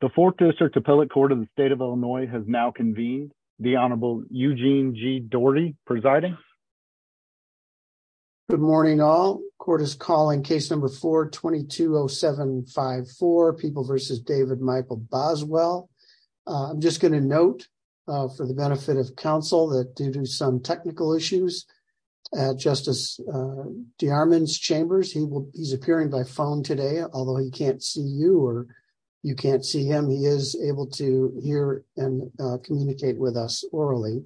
The Fourth District Appellate Court of the State of Illinois has now convened. The Honorable Eugene G. Daugherty presiding. Good morning all. Court is calling case number 4-220754, People v. David Michael Boswell. I'm just going to note for the benefit of counsel that due to some technical issues, Justice DeArmond's chambers, he's appearing by phone today, although he can't see you or you can't see him, he is able to hear and communicate with us orally.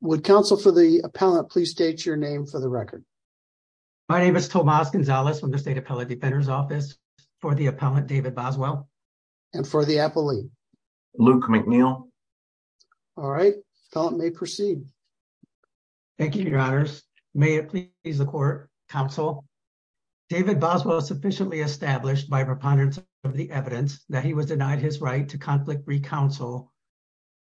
Would counsel for the appellate please state your name for the record? My name is Tomas Gonzalez from the State Appellate Defender's Office. For the appellant, David Boswell. And for the appellee? Luke McNeil. All right, appellant may proceed. Thank you, your honors. May it please the court, counsel? David Boswell is sufficiently established by preponderance of the evidence that he was denied his right to conflict-free counsel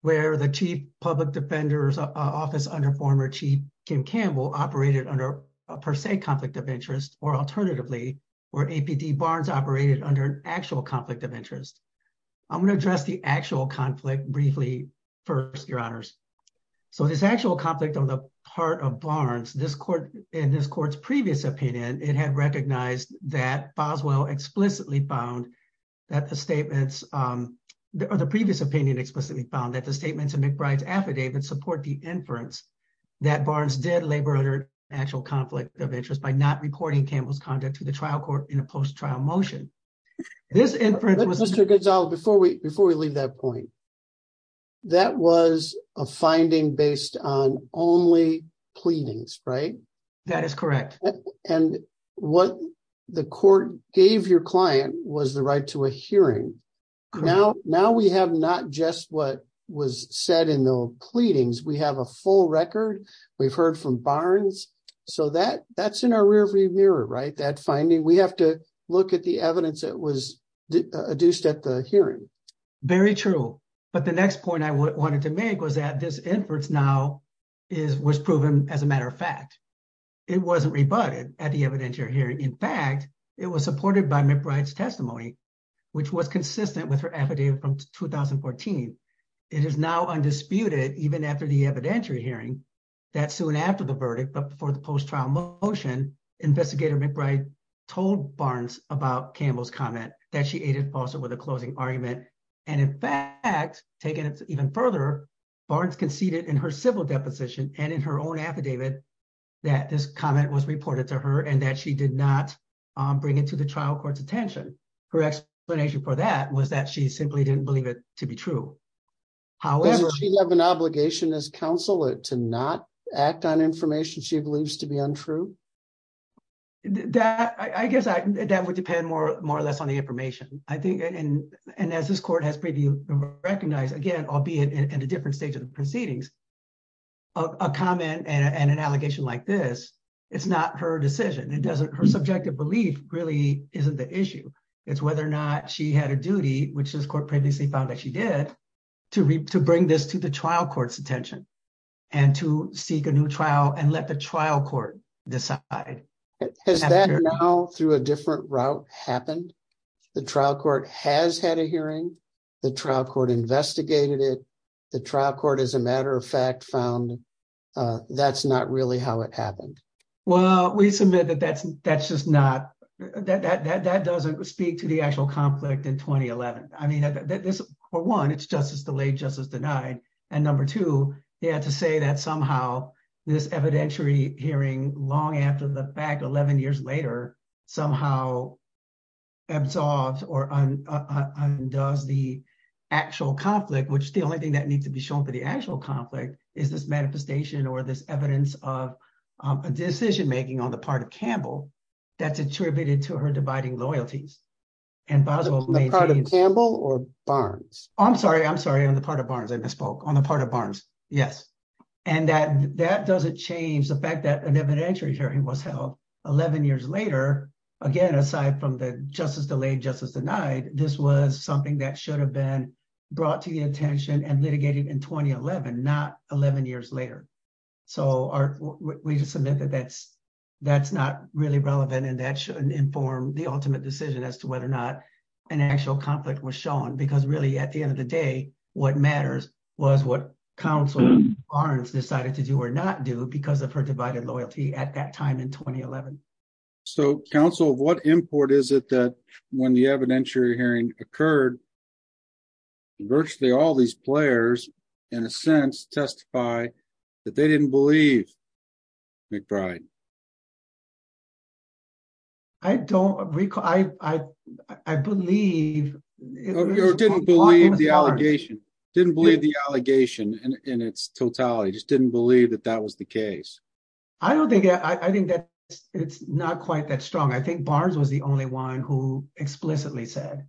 where the Chief Public Defender's Office under former Chief Kim Campbell operated under a per se conflict of interest or alternatively, where APD Barnes operated under an actual conflict of interest. I'm going to address the actual conflict briefly first, your honors. So this actual conflict on the part of Barnes, in this court's previous opinion, it had recognized that Boswell explicitly found that the statements, or the previous opinion explicitly found that the statements in McBride's affidavit support the inference that Barnes did labor under actual conflict of interest by not reporting Campbell's conduct to the trial court in a post-trial motion. This inference was- Mr. Gonzalez, before we leave that point, that was a finding based on only pleadings, right? That is correct. And what the court gave your client was the right to a hearing. Now we have not just what was said in the pleadings. We have a full record. We've heard from Barnes. So that's our rear view mirror, right? That finding, we have to look at the evidence that was adduced at the hearing. Very true. But the next point I wanted to make was that this inference now was proven as a matter of fact. It wasn't rebutted at the evidentiary hearing. In fact, it was supported by McBride's testimony, which was consistent with her affidavit from 2014. It is now undisputed, even after the evidentiary hearing, that soon after the verdict, but before the post-trial motion, investigator McBride told Barnes about Campbell's comment that she aided and foisted with a closing argument. And in fact, taking it even further, Barnes conceded in her civil deposition and in her own affidavit that this comment was reported to her and that she did not bring it to the trial court's attention. Her explanation for that was that she simply didn't believe it to be true. However- I guess that would depend more or less on the information. And as this court has recognized, again, albeit in a different stage of the proceedings, a comment and an allegation like this, it's not her decision. Her subjective belief really isn't the issue. It's whether or not she had a duty, which this court previously found that she did, to bring this to the trial and let the trial court decide. Has that now through a different route happened? The trial court has had a hearing. The trial court investigated it. The trial court, as a matter of fact, found that's not really how it happened. Well, we submit that that's just not- that doesn't speak to the actual conflict in 2011. I mean, for one, it's justice delayed, justice denied. And number two, they had to say that somehow this evidentiary hearing long after the fact, 11 years later, somehow absorbed or undoes the actual conflict, which the only thing that needs to be shown for the actual conflict is this manifestation or this evidence of a decision making on the part of Campbell that's attributed to her dividing loyalties. And Boswell- On the part of Campbell or Barnes? I'm sorry. I'm sorry. On the part of Barnes, I misspoke. On the part of Barnes. Yes. And that doesn't change the fact that an evidentiary hearing was held 11 years later. Again, aside from the justice delayed, justice denied, this was something that should have been brought to the attention and litigated in 2011, not 11 years later. So we just submit that that's not really relevant and that shouldn't inform the ultimate decision as to whether or not an actual conflict was shown because really at the end of the day, what matters was what counsel Barnes decided to do or not do because of her divided loyalty at that time in 2011. So counsel, what import is it that when the evidentiary hearing occurred, virtually all these players, in a sense, testify that they didn't believe McBride? I don't recall. I believe- Or didn't believe the allegation. Didn't believe the allegation in its totality. Just didn't believe that that was the case. I don't think. I think that it's not quite that strong. I think Barnes was the only one who explicitly said,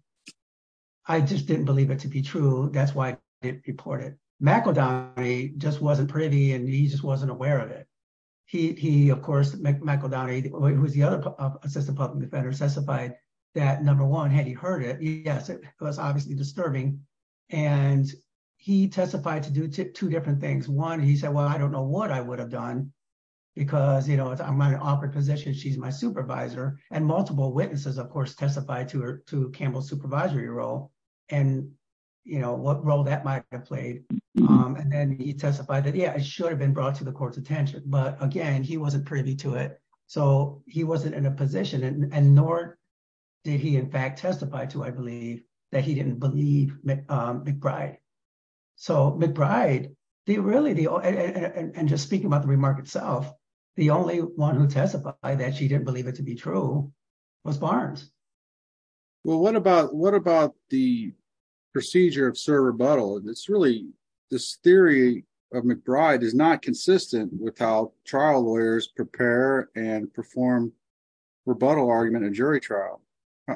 I just didn't believe it to be true. That's why I didn't report it. McOdony just wasn't privy and he just wasn't aware of it. He, of course, McOdony, who was the other assistant public defender, testified that, number one, had he heard it, yes, it was obviously disturbing. And he testified to do two different things. One, he said, well, I don't know what I would have done because, you know, I'm in an awkward position. She's my supervisor. And multiple witnesses, of course, testified to Campbell's supervisory role and, you know, what role that might have played. And he testified that, yeah, it should have been brought to the court's attention. But again, he wasn't privy to it. So he wasn't in a position and nor did he, in fact, testify to, I believe, that he didn't believe McBride. So McBride, and just speaking about the remark itself, the only one who testified that she didn't believe it to be true was Barnes. Well, what about the procedure of serve rebuttal? And it's really, this theory of McBride is not consistent with how trial lawyers prepare and perform rebuttal argument in jury trial.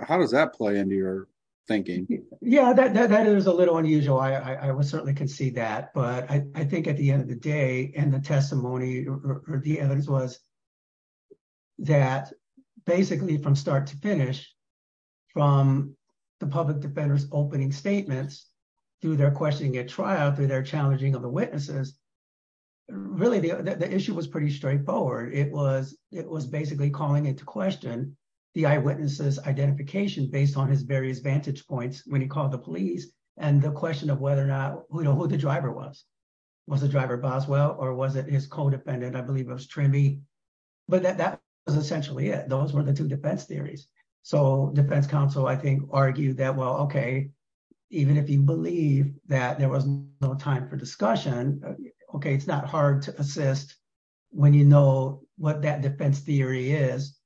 How does that play into your thinking? Yeah, that is a little unusual. I would certainly concede that. But I think at the end of the day and the testimony or the evidence was that, basically, from start to finish, from the public defender's opening statements, through their questioning at trial, through their challenging of the witnesses, really, the issue was pretty straightforward. It was basically calling into question the eyewitnesses' identification based on his various vantage points when he called the police and the question of whether or not, you know, who the driver was. Was the driver Boswell or was it his co-defendant? I believe it was Trimmy. But that was essentially it. Those were the two defense theories. So defense counsel, I think, argued that, well, OK, even if you believe that there was no time for discussion, OK, it's not hard to assist when you know what that defense theory is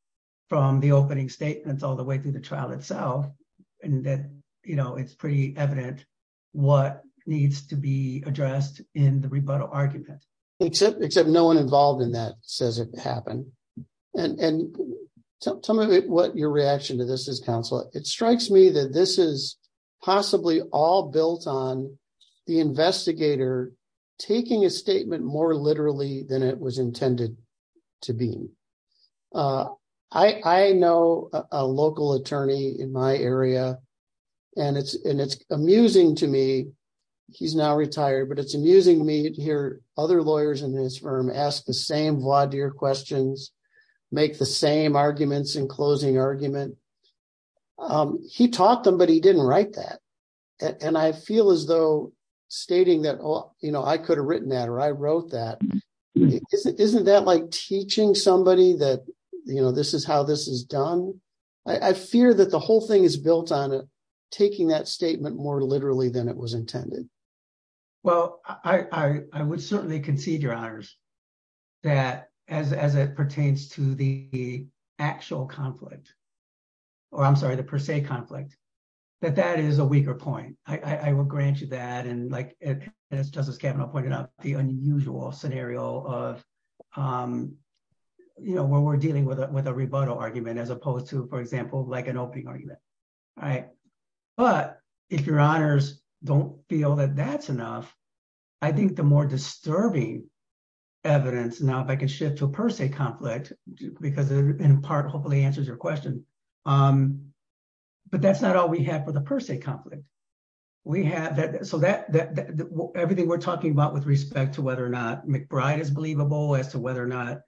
from the opening statements all the way through the trial itself. And that, you know, it's pretty evident what needs to be addressed in the rebuttal argument. Except no one involved in that says it happened. And tell me what your reaction to this is, counsel. It strikes me that this is possibly all built on the investigator taking a statement more literally than it was intended to be. I know a local attorney in my meeting here, other lawyers in this firm ask the same questions, make the same arguments in closing argument. He taught them, but he didn't write that. And I feel as though stating that, you know, I could have written that or I wrote that. Isn't that like teaching somebody that, you know, this is how this is done? I fear that the whole thing is built on taking that statement more literally than it was intended. Well, I would certainly concede, Your Honors, that as it pertains to the actual conflict or I'm sorry, the per se conflict, that that is a weaker point. I will grant you that. And like Justice Kavanaugh pointed out, the unusual scenario of, you know, when we're dealing with a rebuttal argument as opposed to, for example, like an opening argument. All right. But if Your Honors don't feel that that's enough, I think the more disturbing evidence, now if I can shift to a per se conflict, because in part hopefully answers your question. But that's not all we have for the per se conflict. We have that, so that everything we're talking about with respect to whether or not McBride is believable as to whether or not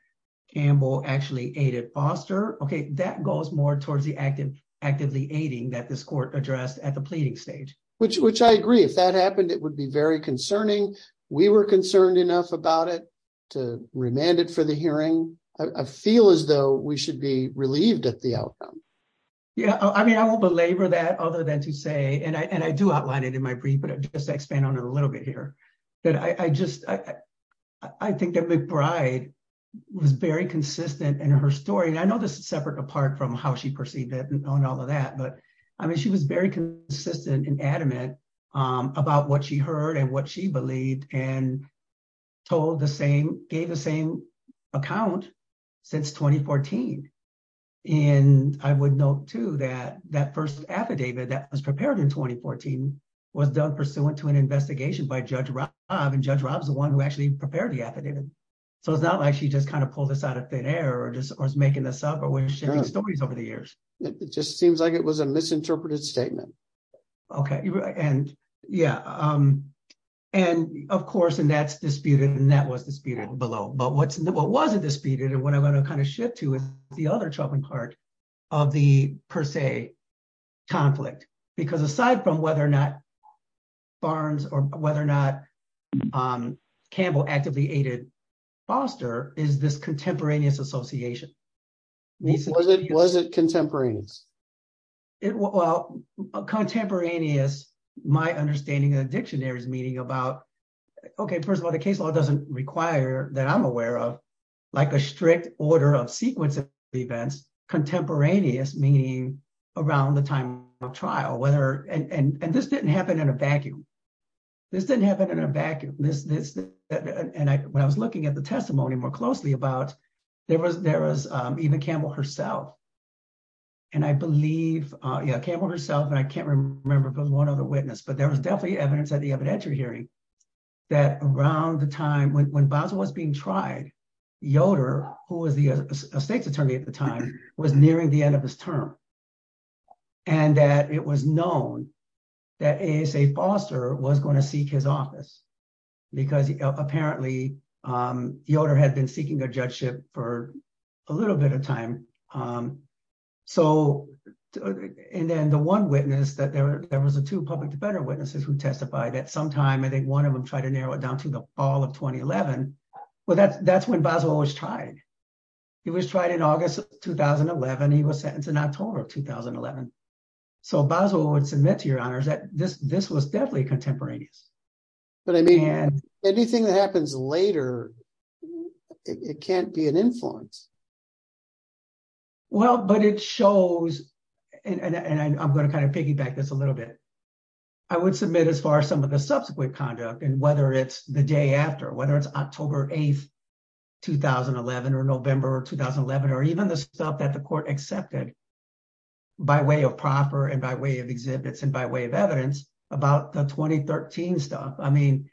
Campbell actually foster. Okay. That goes more towards the actively aiding that this court addressed at the pleading stage. Which I agree. If that happened, it would be very concerning. We were concerned enough about it to remand it for the hearing. I feel as though we should be relieved at the outcome. Yeah. I mean, I won't belabor that other than to say, and I do outline it in my brief, but just to expand on it a little bit here, that I just, I think that McBride was very consistent in her story. And I know this is separate apart from how she perceived it and all of that, but I mean, she was very consistent and adamant about what she heard and what she believed and told the same, gave the same account since 2014. And I would note too that that first affidavit that was prepared in 2014 was done pursuant to an investigation by Judge Robb. And Judge Robb is the one who actually prepared the affidavit. So it's not like she just kind of pulled this out of thin air or just was making this up or was sharing stories over the years. It just seems like it was a misinterpreted statement. Okay. And yeah. And of course, and that's disputed and that was disputed below, but what wasn't disputed and what I'm going to kind of shift to is the other troubling part of the per se conflict. Because aside from whether or not Barnes or whether or not Campbell actively aided Foster is this contemporaneous association. Was it contemporaneous? Well, contemporaneous, my understanding of the dictionary is meaning about, okay, first of all, the case law doesn't require that I'm aware of like a strict order of sequence events contemporaneous meaning around the time of trial, whether, and this didn't happen in a vacuum. This didn't happen in a vacuum. And I, when I was looking at the testimony more closely about there was, there was even Campbell herself. And I believe Campbell herself, and I can't remember if it was one other witness, but there was definitely evidence at the evidentiary hearing that around the time when Basler was being tried, Yoder, who was the state's attorney at the time, was nearing the end of his term. And that it was known that ASA Foster was going to seek his office because apparently Yoder had been seeking a judgeship for a little bit of time. So, and then the one witness that there, there was a two public defender witnesses who testified that sometime, I think one of them tried to narrow it down to the fall of 2011. Well, that's, that's when Basler was tried. He was tried in August of 2011. He was sentenced in October of 2011. So Basler would submit to your honors that this, this was definitely contemporaneous. But I mean, anything that happens later, it can't be an influence. Well, but it shows, and I'm going to kind of piggyback this a little bit. I would submit as far as some of the subsequent conduct and whether it's the day after, whether it's October 8th, 2011 or November of 2011, or even the stuff that the court accepted by way of proffer and by way of exhibits and by way of evidence about the 2013 stuff. I mean,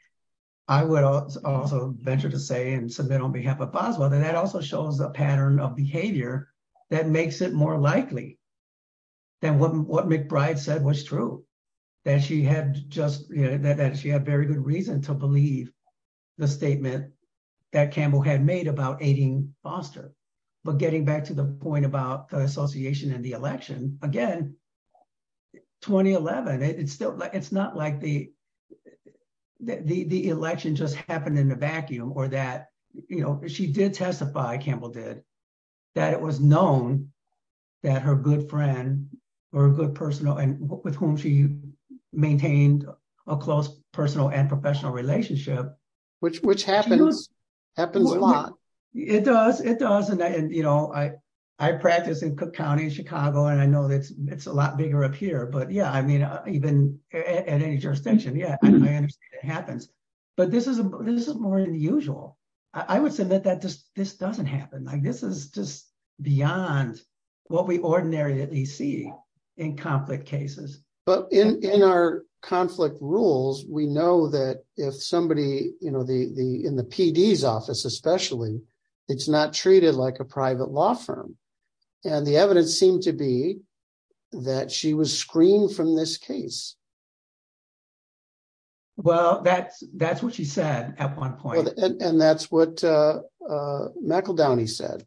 I would also venture to say and submit on behalf of Basler that that also shows a pattern of that she had just, that she had very good reason to believe the statement that Campbell had made about aiding Foster. But getting back to the point about the association and the election again, 2011, it's still, it's not like the, the, the election just happened in a vacuum or that, you know, she did testify, Campbell did, that it was known that her good friend or a good personal, and with whom she maintained a close personal and professional relationship. Which happens, happens a lot. It does, it does. And I, you know, I, I practice in Cook County in Chicago, and I know that it's a lot bigger up here, but yeah, I mean, even at any jurisdiction, yeah, I understand it happens. But this is, this is more than usual. I would submit that just, this doesn't happen. Like, this is just beyond what we ordinarily see in conflict cases. But in, in our conflict rules, we know that if somebody, you know, the, the, in the PD's office, especially, it's not treated like a private law firm. And the evidence seemed to be that she was screened from this case. Well, that's, that's what she said at one point. And that's what McEldowney said.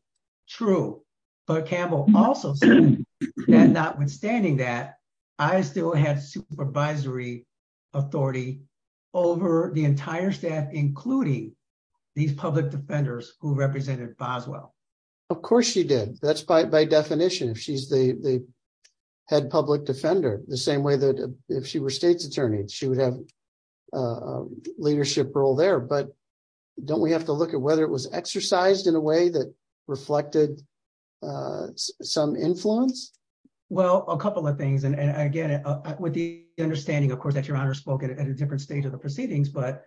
True. But Campbell also said that notwithstanding that, I still had supervisory authority over the entire staff, including these public defenders who represented Boswell. Of course she did. That's by definition, if she's the head public defender, the same way that if she were state's attorney, she would have a leadership role there. But don't we have to look at whether it was exercised in a way that reflected some influence? Well, a couple of things. And again, with the understanding, of course, that Your Honor spoke at a different stage of the proceedings, but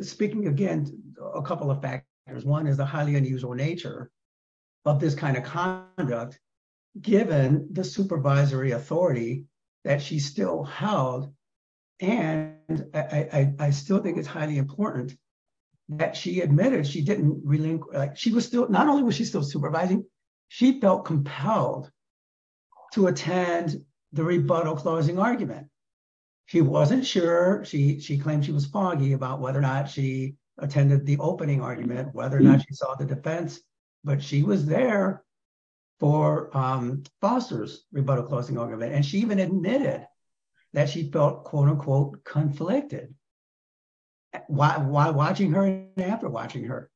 speaking again, a couple of factors. One is the highly unusual nature of this kind of conduct, given the supervisory authority that she still held. And I still think it's highly important that she admitted she didn't really, like she was still, not only was she still supervising, she felt compelled to attend the rebuttal closing argument. She wasn't sure, she claimed she was foggy about whether or not she attended the opening argument, whether or not she saw the defense, but she was there for Foster's rebuttal closing argument. And she even admitted that she felt, quote, unquote, conflicted. While watching her and after watching her,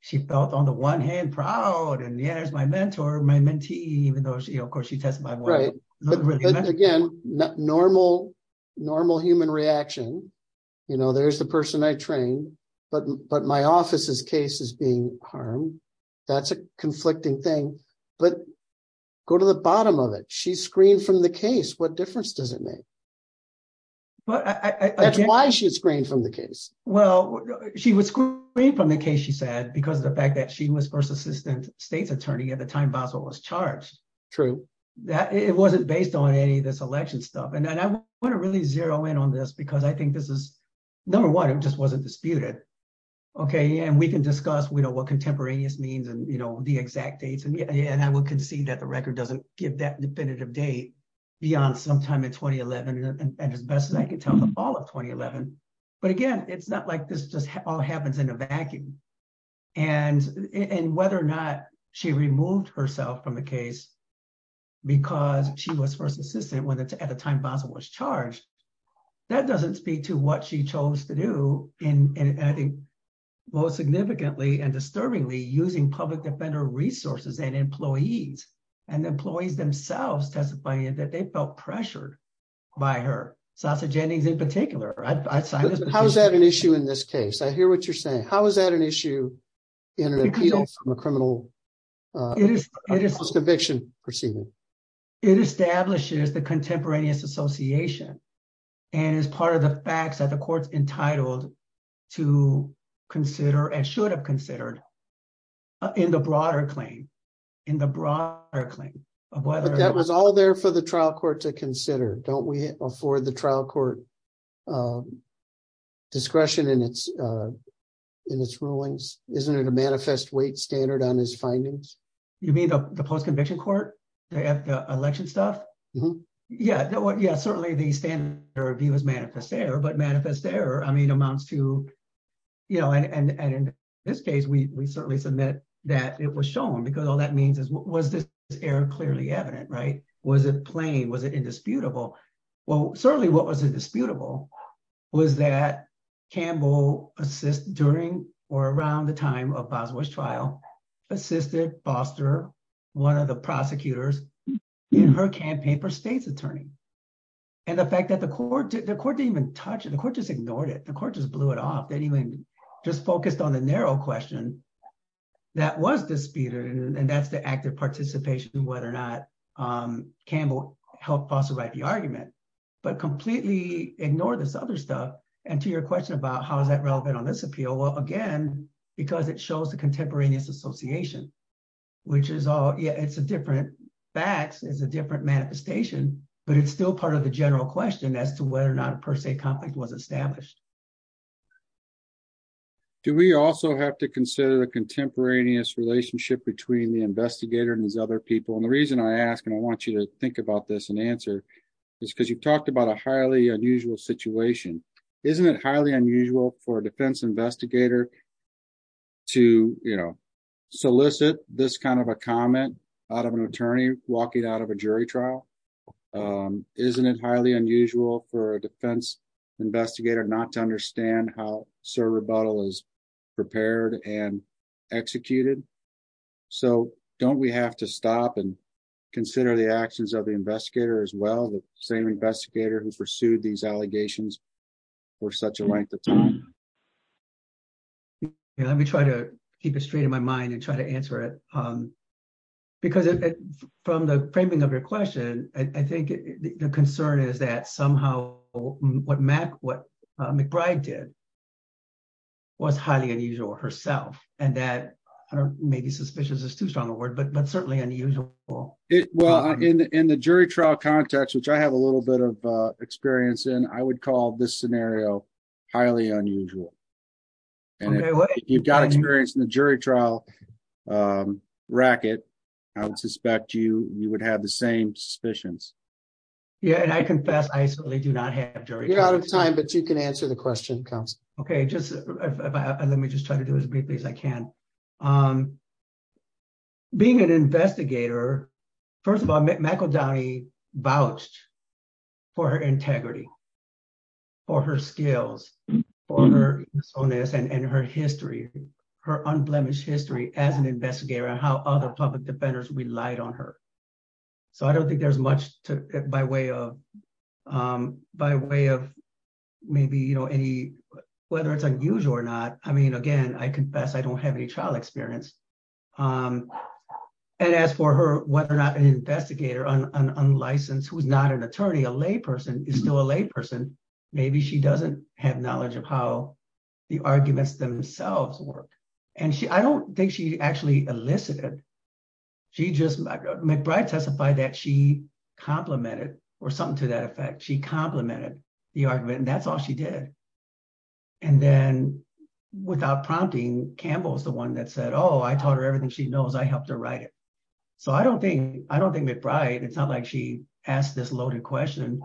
she felt on the one hand proud, and yeah, there's my mentor, my mentee, even though she, of course, she testified more. But again, normal human reaction, you know, there's the person I trained, but my office's case is being harmed. That's a conflicting thing. But go to the bottom of it. She's screened from the case. What difference does it make? That's why she was screened from the case. Well, she was screened from the case, she said, because of the fact that she was first assistant state's attorney at the time Basel was charged. True. It wasn't based on any of this election stuff. And I want to really zero in on this, because I think this is, number one, it just wasn't disputed. Okay, and we can discuss, what contemporaneous means and the exact dates. And I will concede that the record doesn't give that definitive date beyond sometime in 2011, and as best as I can tell, the fall of 2011. But again, it's not like this just all happens in a vacuum. And whether or not she removed herself from the case, because she was first assistant at the time Basel was charged, that doesn't speak to what she chose to do. And I think, most significantly and disturbingly, using public defender resources and employees, and employees themselves testifying that they felt pressured by her. Sasha Jennings in particular. How is that an issue in this case? I hear what you're saying. How is that an issue in an appeal from a criminal conviction proceeding? It establishes the court's entitled to consider and should have considered in the broader claim, in the broader claim of whether- But that was all there for the trial court to consider. Don't we afford the trial court discretion in its rulings? Isn't it a manifest weight standard on his findings? You mean the post-conviction court, the election stuff? Yeah, certainly the standard review is but manifest error amounts to... And in this case, we certainly submit that it was shown, because all that means is, was this error clearly evident? Was it plain? Was it indisputable? Well, certainly what was indisputable was that Campbell assist during or around the time of Basel's trial, assisted Foster, one of the prosecutors in her campaign for state's attorney. And the fact that the court didn't even touch it. The court just ignored it. The court just blew it off. They didn't even just focused on the narrow question that was disputed. And that's the active participation in whether or not Campbell helped Foster write the argument, but completely ignore this other stuff. And to your question about how is that relevant on this appeal? Well, again, because it shows the contemporaneous association, which is all... Yeah, it's a different manifestation, but it's still part of the general question as to whether or not a per se conflict was established. Do we also have to consider the contemporaneous relationship between the investigator and his other people? And the reason I ask, and I want you to think about this and answer, is because you've talked about a highly unusual situation. Isn't it highly unusual for a defense investigator to solicit this kind of a comment out of an inquiry trial? Isn't it highly unusual for a defense investigator not to understand how Sir Rebuttal is prepared and executed? So don't we have to stop and consider the actions of the investigator as well, the same investigator who pursued these allegations for such a length of time? Let me try to keep it straight in my mind and try to answer it. Because from the framing of your question, I think the concern is that somehow what McBride did was highly unusual herself. And that maybe suspicious is too strong a word, but certainly unusual. Well, in the jury trial context, which I have a little bit of experience in, I would call this scenario highly unusual. And if you've got experience in the jury trial racket, I would have the same suspicions. Yeah, and I confess, I certainly do not have jury trial experience. You're out of time, but you can answer the question, counsel. Okay, let me just try to do as briefly as I can. Being an investigator, first of all, McEldowney vouched for her integrity, for her skills, for her honest and her history, her unblemished history as an investigator and how other public defenders relied on her. So I don't think there's much to, by way of maybe any, whether it's unusual or not. I mean, again, I confess I don't have any trial experience. And as for her, whether or not an investigator, an unlicensed who's not an attorney, a lay person is still a lay person. Maybe she doesn't have knowledge of how the arguments themselves work. And I don't think she actually elicited. McBride testified that she complimented or something to that effect. She complimented the argument and that's all she did. And then without prompting, Campbell's the one that said, oh, I taught her everything she knows. I helped her write it. So I don't think McBride, it's not she asked this loaded question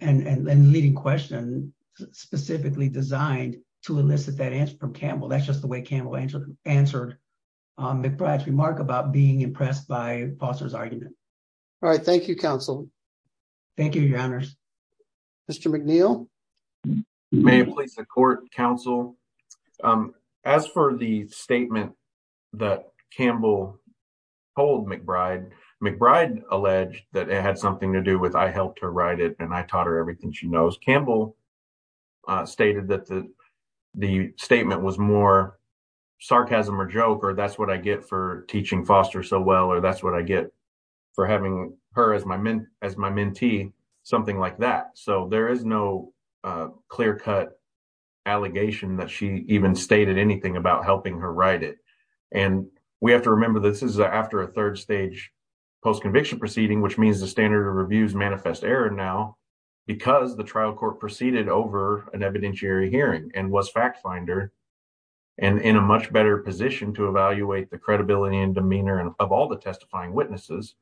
and leading question specifically designed to elicit that answer from Campbell. That's just the way Campbell answered McBride's remark about being impressed by Foster's argument. All right. Thank you, counsel. Thank you, your honors. Mr. McNeil. May it please the court, counsel. As for the statement that Campbell told McBride, McBride alleged that it had something to do with, I helped her write it and I taught her everything she knows. Campbell stated that the statement was more sarcasm or joke, or that's what I get for teaching Foster so well, or that's what I get for having her as my mentee, something like that. So there is no clear cut allegation that she even stated anything about helping her write it. And we have to remember this is after a third stage post-conviction proceeding, which means the standard of reviews manifest error now because the trial court proceeded over an evidentiary hearing and was fact finder and in a much better position to evaluate the credibility and demeanor of all the testifying witnesses.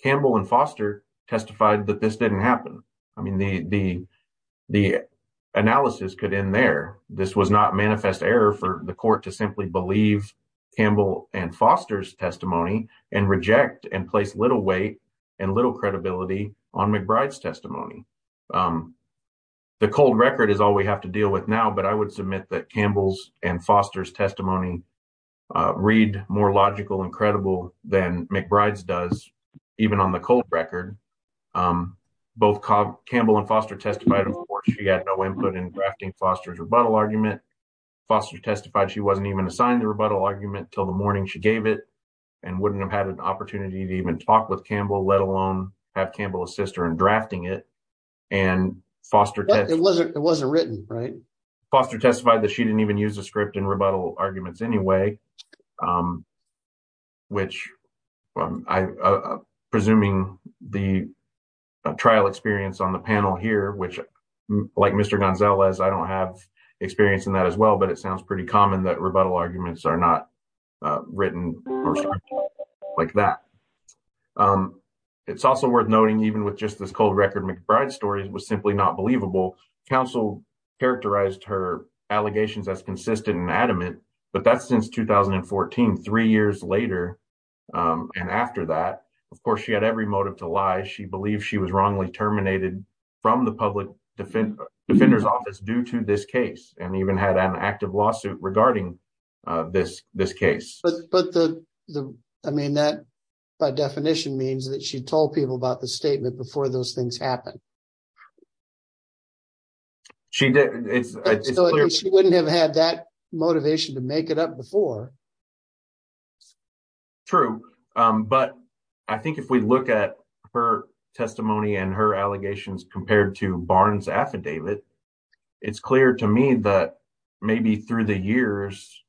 Campbell and Foster testified that this didn't happen. I mean, the analysis could end there. This was not manifest error for the court to simply believe Campbell and Foster's testimony and reject and place little weight and little credibility on McBride's testimony. The cold record is all we have to deal with now, but I would submit that Campbell's and Foster's testimony read more logical and credible than McBride's does, even on the cold record. Both Campbell and Foster testified, of course, she had no input in drafting Foster's rebuttal argument. Foster testified she wasn't even assigned the rebuttal argument until the morning she gave it and wouldn't have had an opportunity to even talk with Campbell, let alone have Campbell's sister in drafting it. And Foster testified that she presuming the trial experience on the panel here, which like Mr. Gonzalez, I don't have experience in that as well, but it sounds pretty common that rebuttal arguments are not written like that. It's also worth noting, even with just this cold record, McBride's story was simply not believable. Counsel characterized her allegations as consistent and adamant, but that's since 2014, three years later. And after that, of course, she had every motive to lie. She believed she was wrongly terminated from the public defender's office due to this case, and even had an active lawsuit regarding this case. But the, I mean, that by definition means that she told people about the statement before those things happened. She wouldn't have had that motivation to make it up before. True. But I think if we look at her testimony and her allegations compared to Barnes' affidavit, it's clear to me that maybe through the years,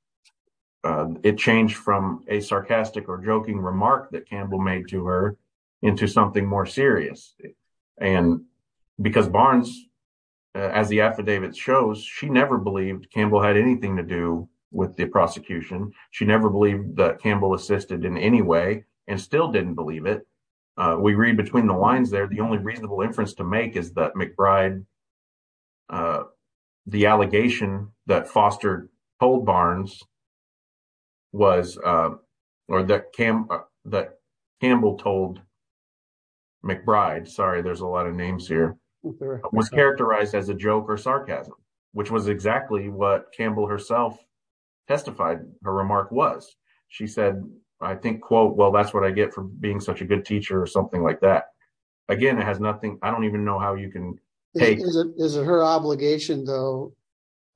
it changed from a sarcastic or joking remark that Campbell made to her into something more serious. And because Barnes, as the affidavit shows, she never believed Campbell had anything to do with the prosecution. She never believed that Campbell assisted in any way and still didn't believe it. We read between the lines there, the only reasonable inference to make is that McBride, the allegation that fostered, told Barnes was, or that Campbell told McBride, sorry, there's a lot of names here, was characterized as a joke or sarcasm, which was exactly what Campbell herself testified her remark was. She said, I think, quote, well, that's what I get from being such a good teacher or something like that. Again, it has nothing, I don't even know how you can take- Is it her obligation though,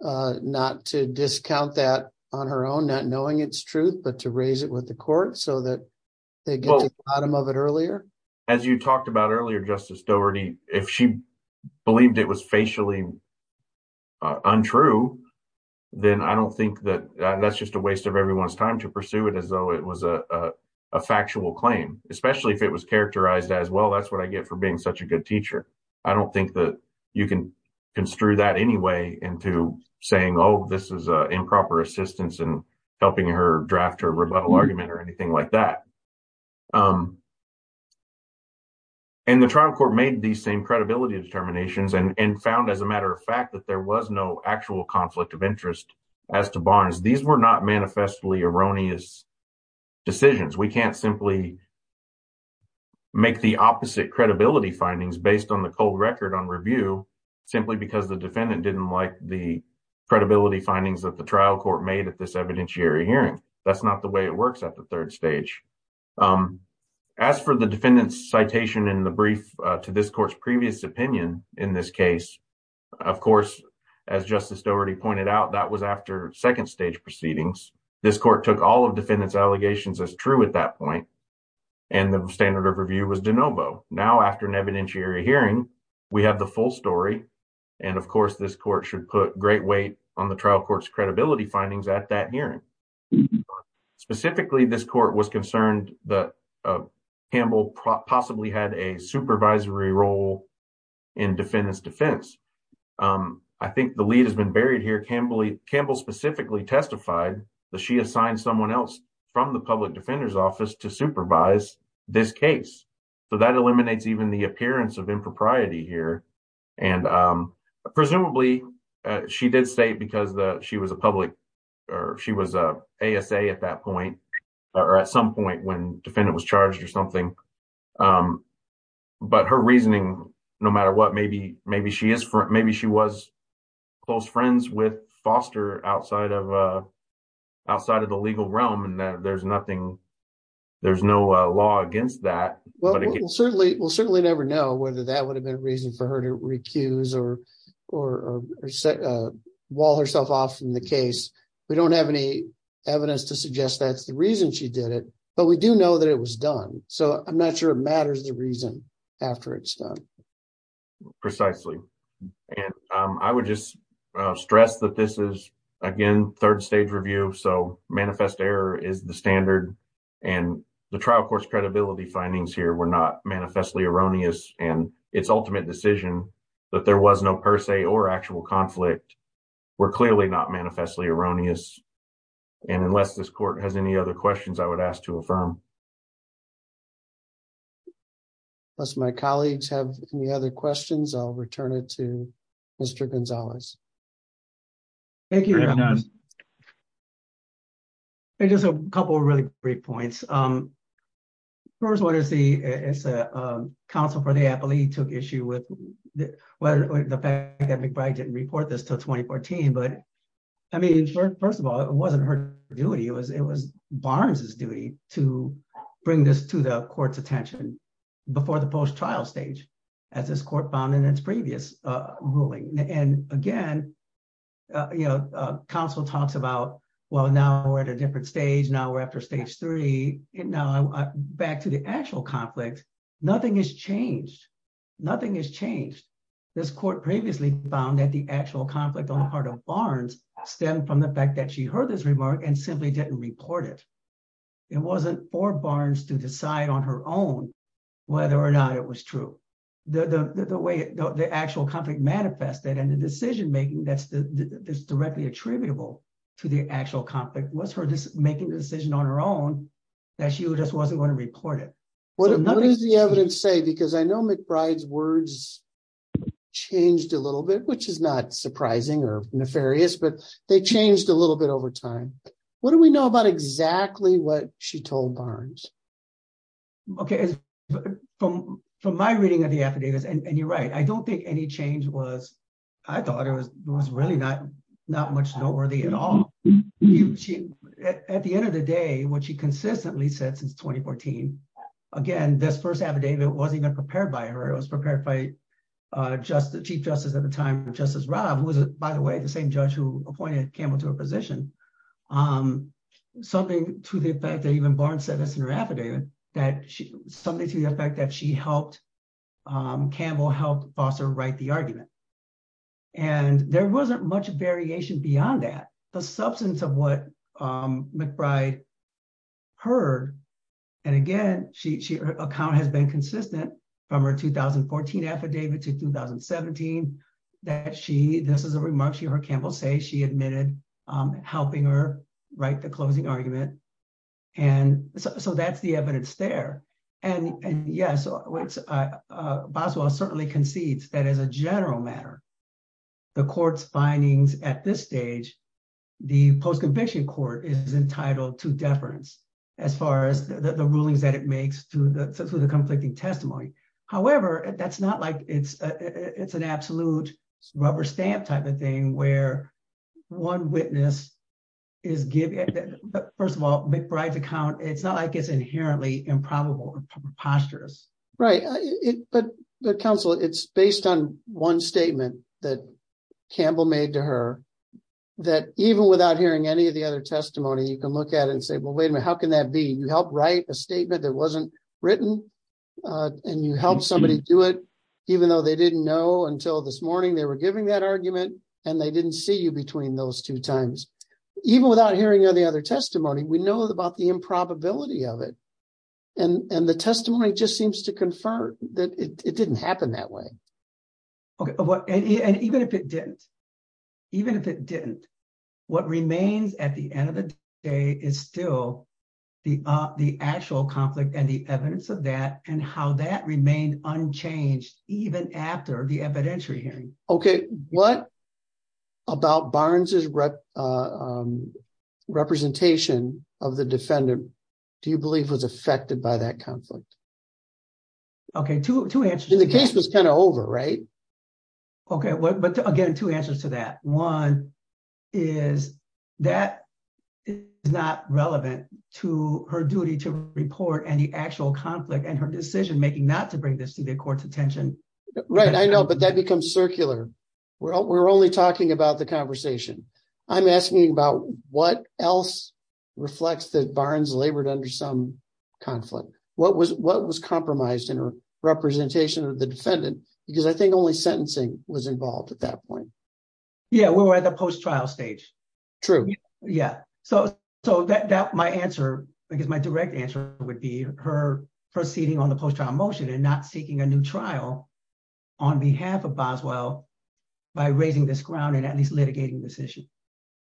not to discount that on her own, not knowing it's truth, but to raise it with the court so that they get to the bottom of it earlier? As you talked about earlier, Justice Doherty, if she believed it was facially untrue, then I don't think that that's just a waste of everyone's time to pursue it as though it was a factual claim, especially if it was characterized as, well, that's what I get for being such a good teacher. I don't think that you can construe that anyway into saying, oh, this is improper assistance in helping her draft her rebuttal argument or anything like that. And the trial court made these same credibility determinations and found, as a matter of fact, that there was no actual conflict of interest as to Barnes. These were not manifestly erroneous decisions. We can't simply make the opposite credibility findings based on the cold record on review simply because the defendant didn't like the credibility findings that the trial court made at this evidentiary hearing. That's not the way it works at the third stage. As for the defendant's citation in the brief to this court's previous opinion in this case, of course, as Justice Doherty pointed out, that was after second stage proceedings. This court took all of defendant's allegations as true at that point, and the standard of review was de novo. Now, after an evidentiary hearing, we have the full story, and of course, this court should put great weight on the trial court's credibility findings at that hearing. Specifically, this court was concerned that Campbell possibly had a supervisory role in defendant's defense. I think the lead has been buried here. Campbell specifically testified that she assigned someone else from the public defender's office to supervise this case, so that eliminates even the appearance of impropriety here. Presumably, she did say because she was a public, or she was a ASA at that point, or at some point when defendant was charged or something, but her reasoning, no matter what, maybe she was close friends with Foster outside of the legal realm, and there's no law against that. Well, we'll certainly never know whether that would have been a reason for her to recuse or wall herself off from the case. We don't have any evidence to suggest that's the reason she did it, but we do know that it was done, so I'm not sure it matters the reason after it's done. Precisely, and I would just stress that this is, again, third stage review, so manifest error is the standard, and the trial court's credibility findings here were not manifestly erroneous, and its ultimate decision that there was no per se or actual conflict were clearly not to affirm. Unless my colleagues have any other questions, I'll return it to Mr. Gonzalez. Thank you. Just a couple of really great points. First one is the counsel for the appellee took issue with the fact that McBride didn't report this until 2014, but I mean, first of all, it wasn't her duty, it was Barnes's duty to bring this to the court's attention before the post-trial stage, as this court found in its previous ruling, and again, you know, counsel talks about, well, now we're at a different stage, now we're after stage three, and now back to the actual conflict, nothing has changed. Nothing has changed. This court previously found that the actual conflict on the part of Barnes stemmed from the fact that she heard this remark and simply didn't report it. It wasn't for Barnes to decide on her own whether or not it was true. The way the actual conflict manifested and the decision-making that's directly attributable to the actual conflict was her making the decision on her own that she just wasn't going to report it. What does the evidence say? Because I know McBride's words changed a little bit, which is not surprising or nefarious, but they changed a little bit over time. What do we know about exactly what she told Barnes? Okay, from my reading of the affidavits, and you're right, I don't think any change was, I thought it was really not much noteworthy at all. At the end of the day, what she consistently said since 2014, again, this first affidavit wasn't prepared by her. It was prepared by Chief Justice at the time, Justice Robb, who was, by the way, the same judge who appointed Campbell to her position. Something to the effect that even Barnes said this in her affidavit, something to the effect that she helped, Campbell helped Foster write the argument. There wasn't much variation beyond that. The substance of what McBride heard, and again, her account has been consistent from her 2014 affidavit to 2017, that she, this is a remark she heard Campbell say, she admitted helping her write the closing argument. And so that's the evidence there. And yes, Boswell certainly concedes that as a general matter. The court's findings at this stage, the post-conviction court is entitled to deference as far as the rulings that it makes to the conflicting testimony. However, that's not like it's an absolute rubber stamp type of thing where one witness is giving, first of all, McBride's account, it's not like it's inherently improbable or preposterous. Right. But counsel, it's based on one statement that Campbell made to her that even without hearing any of the other testimony, you can look at it and say, well, wait a minute, how can that be? You helped write a statement that wasn't written and you helped somebody do it, even though they didn't know until this morning, they were giving that argument and they didn't see you between those two times. Even without hearing any other testimony, we know about the improbability of it. And the testimony just seems to confirm that it didn't happen that way. Okay. And even if it didn't, even if it didn't, what remains at the end of the day is still the actual conflict and the evidence of that and how that remained unchanged, even after the evidentiary hearing. Okay. What about Barnes's representation of the defendant, do you believe was affected by that conflict? Okay. Two answers. The case was kind of over, right? Okay. But again, two answers to that. One is that it's not relevant to her duty to report any actual conflict and her decision-making not to bring this to the court's attention. Right. I know, but that becomes circular. We're only talking about the conversation. I'm asking about what else reflects that Barnes labored under some conflict. What was compromised in her representation of the defendant? Because I think only sentencing was involved at that point. Yeah. We were at the post-trial stage. True. Yeah. So my answer, because my direct answer would be her proceeding on the post-trial motion and not seeking a new trial on behalf of Boswell by raising this ground and at least litigating this issue.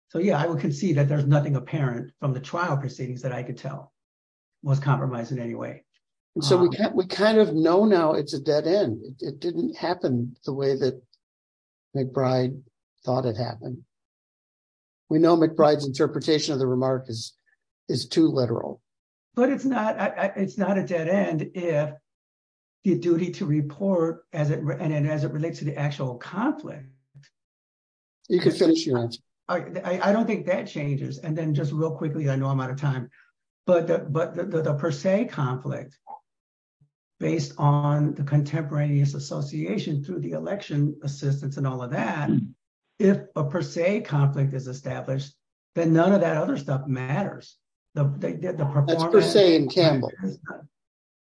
So yeah, I would concede that there's nothing apparent from the trial proceedings that I could tell was compromised in any way. And so we kind of know now it's a dead end. It didn't happen the way that McBride thought it happened. We know McBride's interpretation of the remark is too literal. But it's not a dead end if the duty to report as it relates to the actual conflict. You can finish your answer. I don't think that changes. And then just real quickly, I know I'm out of time, but the per se conflict based on the contemporaneous association through the election assistance and all of that, if a per se conflict is established, then none of that other stuff matters. That's per se in Campbell.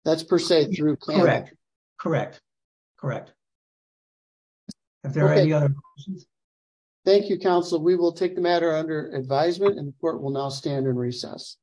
That's per se through. Correct. Correct. Correct. If there are any other questions. Thank you, counsel. We will take the matter under advisement and the court will now stand in recess.